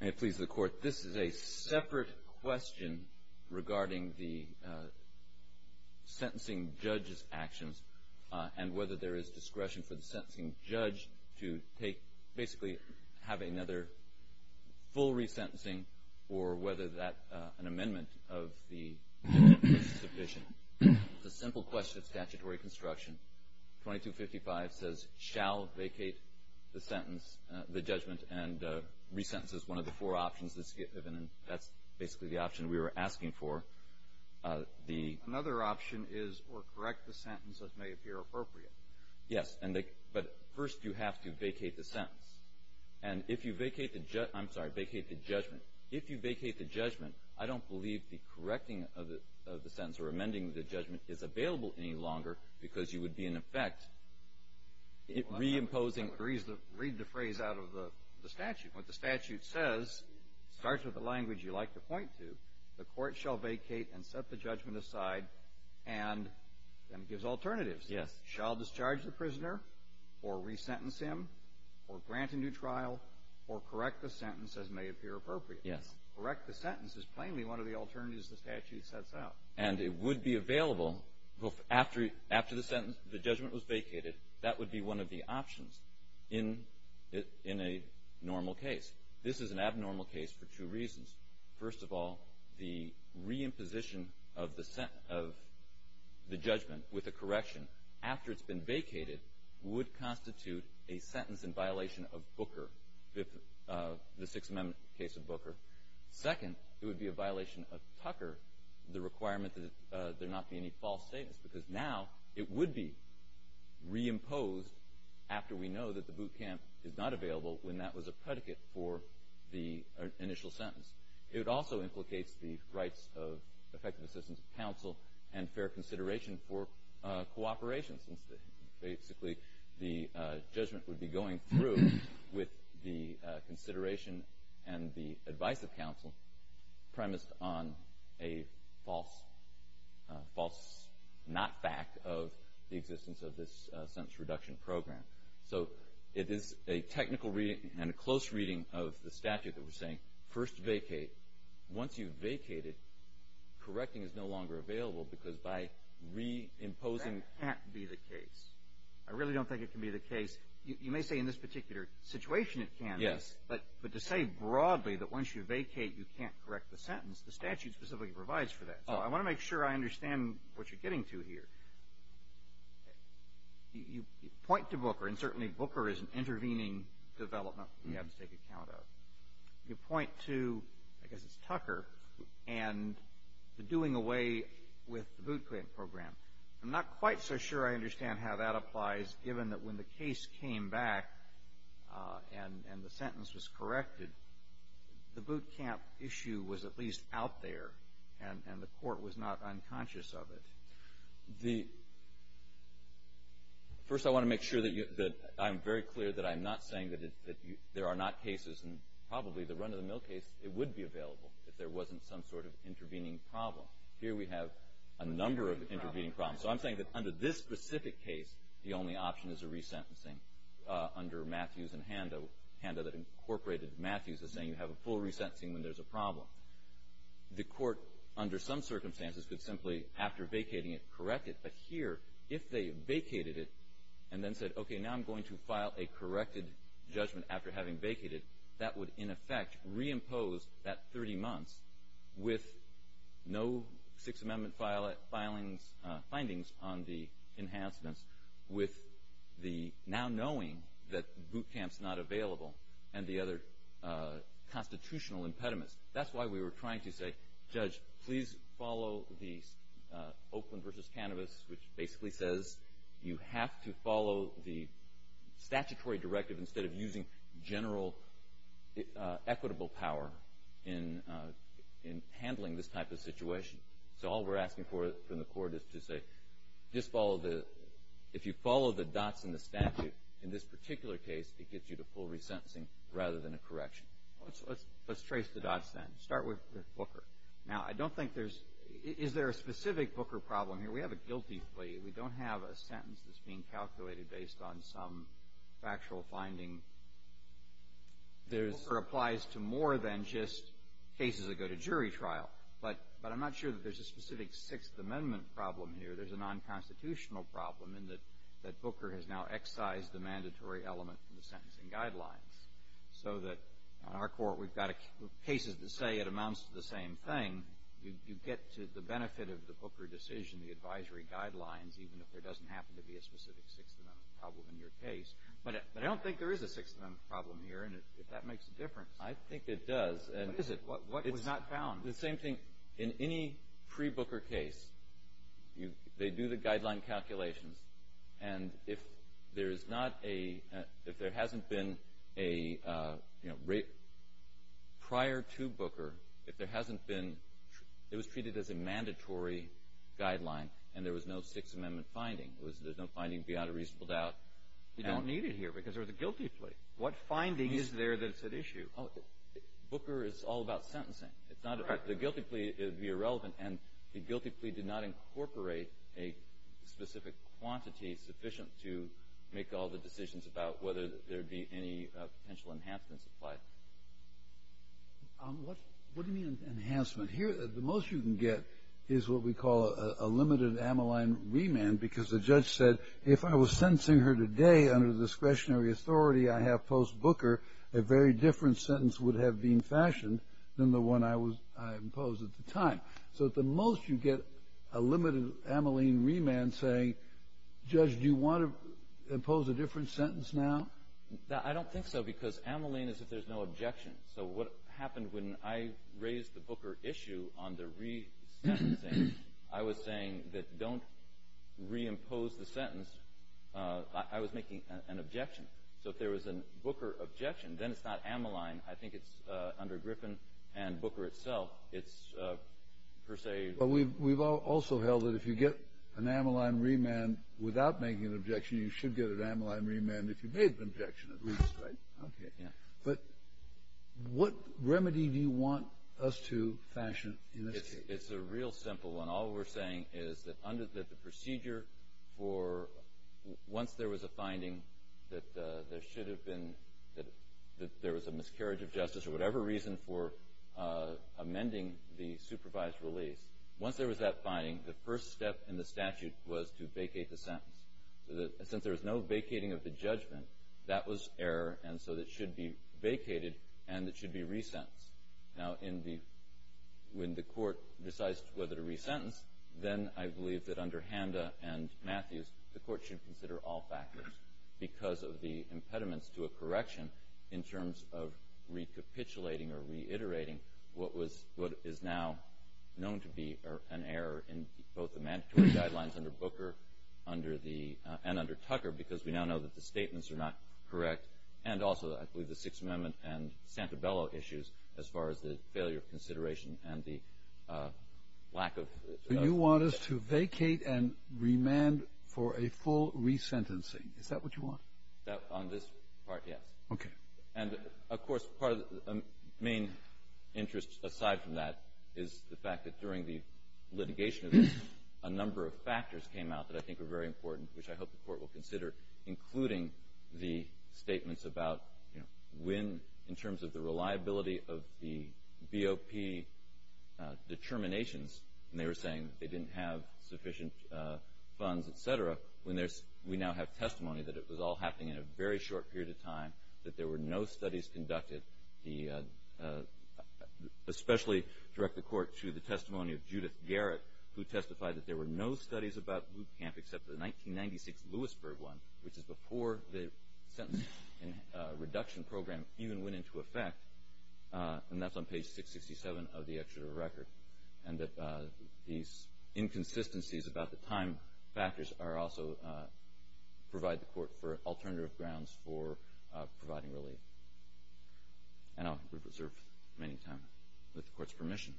May it please the Court, this is a separate question regarding the sentencing judge's actions and whether there is discretion for the sentencing judge to basically have another full re-sentencing or whether an amendment of the amendment is sufficient. It's a simple question of statutory construction. 2255 says shall vacate the sentence, the judgment, and re-sentence is one of the four options that's given and that's basically the option we were asking for. The Another option is or correct the sentence as may appear appropriate. Yes, but first you have to vacate the sentence. And if you vacate the judgment, I'm sorry, vacate the judgment. If you vacate the judgment, I don't believe the correcting of the sentence or amending the judgment is available any longer because you would be in effect re-imposing. Read the phrase out of the statute. What the statute says starts with the language you like to point to. The court shall vacate and set the judgment aside and then gives alternatives. Yes. Shall discharge the prisoner or re-sentence him or grant a new trial or correct the sentence as may appear appropriate. Yes. Correct the sentence is plainly one of the alternatives the statute sets out. And it would be available after the sentence, the judgment was vacated. That would be one of the options in a normal case. This is an abnormal case for two reasons. First of all, the re-imposition of the judgment with a correction after it's been vacated would constitute a sentence in violation of Booker, the Sixth Amendment case of Booker. Second, it would be a violation of Tucker, the requirement that there not be any false statements because now it would be re-imposed after we know that the boot camp is not available when that was a predicate for the initial sentence. It also implicates the rights of effective assistance of counsel and fair consideration for cooperation since basically the judgment would be going through with the consideration and the advice of counsel premised on a false not fact of the existence of this sentence reduction program. So it is a technical reading and a close reading of the statute that we're saying first vacate. Once you've vacated, correcting is no longer available because by re-imposing. That can't be the case. I really don't think it can be the case. You may say in this particular situation it can be. Yes. But to say broadly that once you vacate you can't correct the sentence, the statute specifically provides for that. So I want to make sure I understand what you're getting to here. You point to Booker and certainly Booker is an intervening development we have to take account of. You point to, I guess it's Tucker, and the doing away with the boot camp program. I'm not quite so sure I understand how that applies given that when the case came back and the sentence was corrected, the boot camp issue was at least out there and the court was not unconscious of it. First I want to make sure that I'm very clear that I'm not saying that there are not cases and probably the run of the mill case it would be available if there wasn't some sort of intervening problem. Here we have a number of intervening problems. So I'm saying that under this specific case the only option is a resentencing under Matthews and Handa. Handa that incorporated Matthews is saying you have a full resentencing when there's a problem. The court under some circumstances could simply after vacating it correct it. But here if they vacated it and then said okay now I'm going to file a corrected judgment after having vacated, that would in effect reimpose that 30 months with no Sixth Amendment findings on the enhancements with the now knowing that boot camp's not available and the other constitutional impediments. That's why we were trying to say judge please follow the Oakland versus cannabis which basically says you have to follow the statutory directive instead of using general equitable power in handling this type of situation. So all we're asking for from the court is to say if you follow the dots in the statute in this particular case it gets you to full resentencing rather than a correction. Let's trace the dots then. Start with Booker. Now I don't think there's, is there a specific Booker problem here? We have a guilty plea. We don't have a sentence that's being calculated based on some factual finding. Booker applies to more than just cases that go to jury trial. But I'm not sure that there's a specific Sixth Amendment problem here. There's a non-constitutional problem in that Booker has now excised the mandatory element in the sentencing guidelines so that in our court we've got cases that say it amounts to the same thing. You get to the benefit of the Booker decision, the advisory guidelines, even if there doesn't happen to be a specific Sixth Amendment problem in your case. But I don't think there is a Sixth Amendment problem here and if that makes a difference. I think it does. What is it? What was not found? The same thing. In any pre-Booker case, they do the guideline calculations. And if there is not a, if there hasn't been a prior to Booker, if there hasn't been, it was treated as a mandatory guideline and there was no Sixth Amendment finding. There was no finding beyond a reasonable doubt. You don't need it here because there was a guilty plea. What finding is there that's at issue? Booker is all about sentencing. The guilty plea would be irrelevant and the guilty plea did not incorporate a specific quantity sufficient to make all the decisions about whether there would be any potential enhancements applied. What do you mean enhancement? Here, the most you can get is what we call a limited amyline remand because the judge said, if I was sentencing her today under discretionary authority I have post-Booker, a very different sentence would have been fashioned than the one I imposed at the time. So, at the most, you get a limited amyline remand saying, Judge, do you want to impose a different sentence now? I don't think so because amyline is if there's no objection. So, what happened when I raised the Booker issue on the resentencing, I was saying that don't reimpose the sentence. I was making an objection. So, if there was a Booker objection, then it's not amyline. I think it's under Griffin and Booker itself, it's per se. But we've also held that if you get an amyline remand without making an objection, you should get an amyline remand if you made the objection at least, right? Okay. Yeah. But what remedy do you want us to fashion in this case? It's a real simple one. All we're saying is that the procedure for once there was a finding that there should have been, that there was a miscarriage of justice or whatever reason for amending the supervised release, once there was that finding, the first step in the statute was to vacate the sentence. Since there was no vacating of the judgment, that was error, and so it should be vacated and it should be resentenced. Now, when the court decides whether to resentence, then I believe that under Handa and Matthews, the court should consider all factors because of the impediments to a correction in terms of recapitulating or reiterating what is now known to be an error in both the mandatory guidelines under Booker and under Tucker because we now know that the statements are not correct and also, I believe, the Sixth Amendment and Santabello issues as far as the failure of consideration and the lack of the judgment. So you want us to vacate and remand for a full resentencing. Is that what you want? On this part, yes. Okay. And, of course, part of the main interest aside from that is the fact that during the litigation of this, a number of factors came out that I think are very important, which I hope the court will consider, including the statements about when, in terms of the reliability of the BOP determinations, and they were saying they didn't have sufficient funds, et cetera, when we now have testimony that it was all happening in a very short period of time, that there were no studies conducted, especially direct the court to the testimony of Judith Garrett, who testified that there were no studies about boot camp except the 1996 Lewisburg one, which is before the Sentencing Reduction Program even went into effect, and that's on page 667 of the executive record, and that these inconsistencies about the time factors also provide the court for alternative grounds for providing relief. And I'll reserve many time with the court's permission.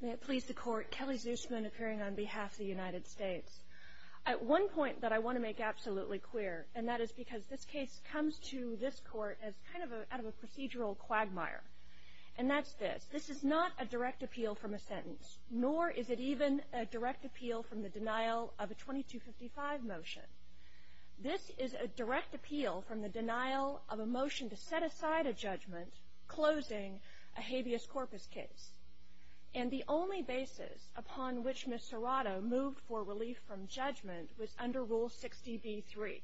May it please the court, Kelly Zusman, appearing on behalf of the United States. At one point that I want to make absolutely clear, and that is because this case comes to this court as kind of out of a procedural quagmire, and that's this. This is not a direct appeal from a sentence, nor is it even a direct appeal from the denial of a 2255 motion. This is a direct appeal from the denial of a motion to set aside a judgment, closing a habeas corpus case, and the only basis upon which Ms. Serrato moved for relief from judgment was under Rule 60b-3,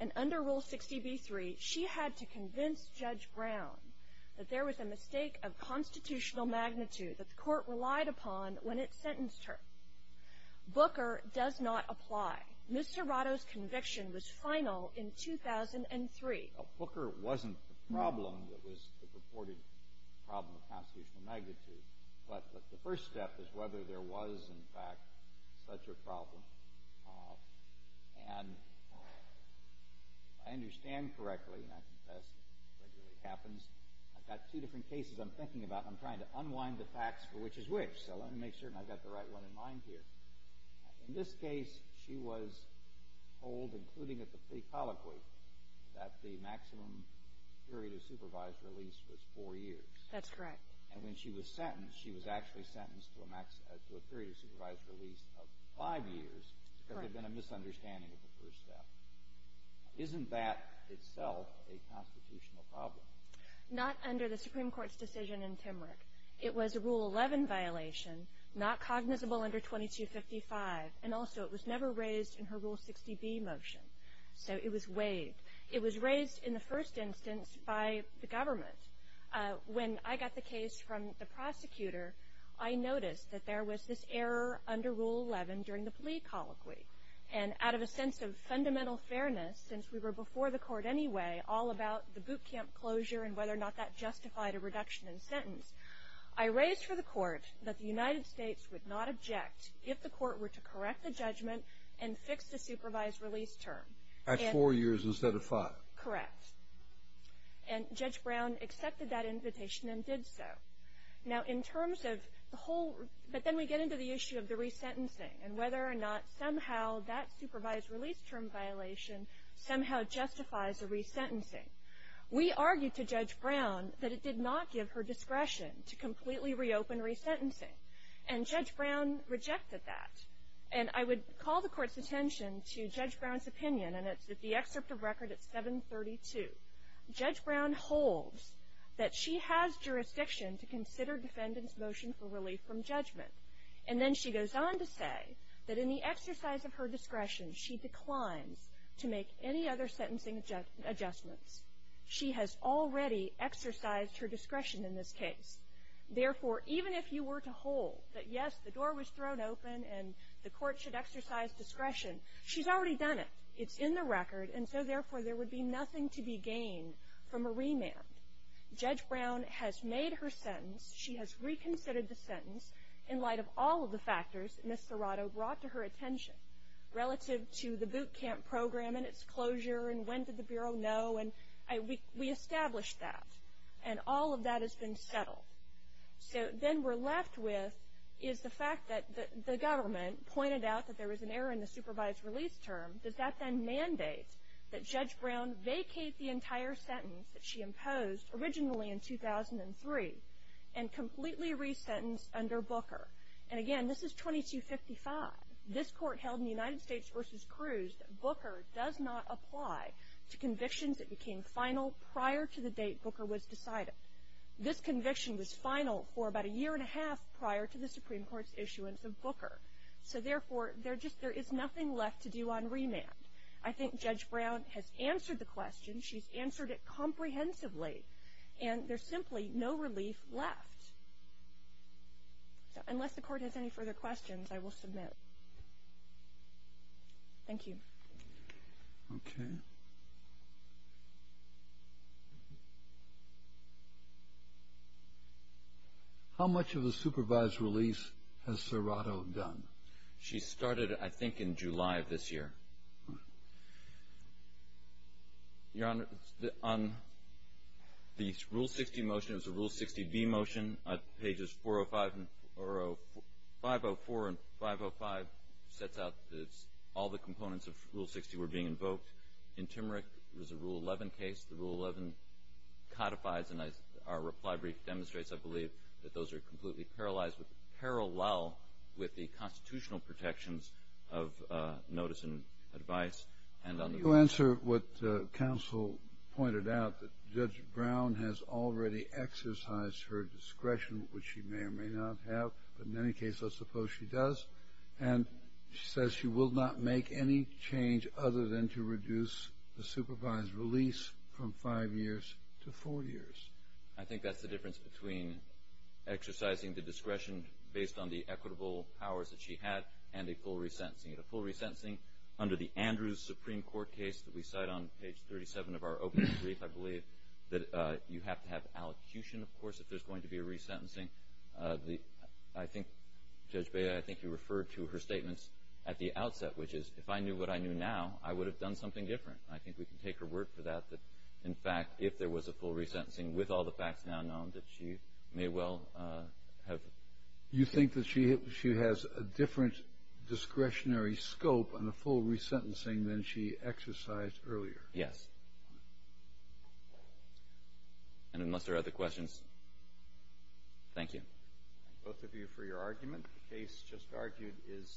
and under Rule 60b-3 she had to convince Judge Brown that there was a mistake of constitutional magnitude that the court relied upon when it sentenced her. Booker does not apply. Ms. Serrato's conviction was final in 2003. Booker wasn't the problem that was the purported problem of constitutional magnitude, but the first step is whether there was, in fact, such a problem. And I understand correctly, and I confess it regularly happens, I've got two different cases I'm thinking about, and I'm trying to unwind the facts for which is which, so let me make certain I've got the right one in mind here. In this case, she was told, including at the plea colloquy, that the maximum period of supervised release was four years. That's correct. And when she was sentenced, she was actually sentenced to a period of supervised release of five years because there had been a misunderstanding of the first step. Isn't that itself a constitutional problem? Not under the Supreme Court's decision in Timrick. It was a Rule 11 violation, not cognizable under 2255, and also it was never raised in her Rule 60b motion, so it was waived. It was raised in the first instance by the government. When I got the case from the prosecutor, I noticed that there was this error under Rule 11 during the plea colloquy. And out of a sense of fundamental fairness, since we were before the court anyway, all about the boot camp closure and whether or not that justified a reduction in sentence, I raised for the court that the United States would not object if the court were to correct the judgment and fix the supervised release term. At four years instead of five. Correct. And Judge Brown accepted that invitation and did so. But then we get into the issue of the resentencing and whether or not somehow that supervised release term violation somehow justifies a resentencing. We argued to Judge Brown that it did not give her discretion to completely reopen resentencing. And Judge Brown rejected that. And I would call the court's attention to Judge Brown's opinion, and it's at the excerpt of record at 732. Judge Brown holds that she has jurisdiction to consider defendant's motion for relief from judgment. And then she goes on to say that in the exercise of her discretion, she declines to make any other sentencing adjustments. She has already exercised her discretion in this case. Therefore, even if you were to hold that, yes, the door was thrown open and the court should exercise discretion, she's already done it. It's in the record. And so, therefore, there would be nothing to be gained from a remand. Judge Brown has made her sentence. She has reconsidered the sentence in light of all of the factors that Ms. Serrato brought to her attention relative to the boot camp program and its closure and when did the Bureau know. And we established that. And all of that has been settled. So then we're left with is the fact that the government pointed out that there was an error in the supervised release term. Does that then mandate that Judge Brown vacate the entire sentence that she imposed originally in 2003 and completely resentence under Booker? And, again, this is 2255. This court held in the United States versus Cruz that Booker does not apply to convictions that became final prior to the date Booker was decided. This conviction was final for about a year and a half prior to the Supreme Court's issuance of Booker. So, therefore, there is nothing left to do on remand. I think Judge Brown has answered the question. She's answered it comprehensively. And there's simply no relief left. So unless the Court has any further questions, I will submit. Thank you. Okay. How much of the supervised release has Serrato done? She started, I think, in July of this year. Your Honor, on the Rule 60 motion, it was a Rule 60B motion. Pages 405 and 504 and 505 sets out that all the components of Rule 60 were being invoked. In Timerick, it was a Rule 11 case. The Rule 11 codifies, and our reply brief demonstrates, I believe, that those are completely parallel with the constitutional protections of notice and advice. To answer what counsel pointed out, Judge Brown has already exercised her discretion, which she may or may not have. But in any case, I suppose she does. And she says she will not make any change other than to reduce the supervised release from five years to four years. I think that's the difference between exercising the discretion based on the equitable powers that she had and a full resentencing. A full resentencing under the Andrews Supreme Court case that we cite on page 37 of our opening brief, I believe that you have to have allocution, of course, if there's going to be a resentencing. I think, Judge Bea, I think you referred to her statements at the outset, which is if I knew what I knew now, I would have done something different. I think we can take her word for that, that, in fact, if there was a full resentencing, with all the facts now known, that she may well have. You think that she has a different discretionary scope on a full resentencing than she exercised earlier? Yes. And unless there are other questions, thank you. Both of you for your argument. The case just argued is submitted.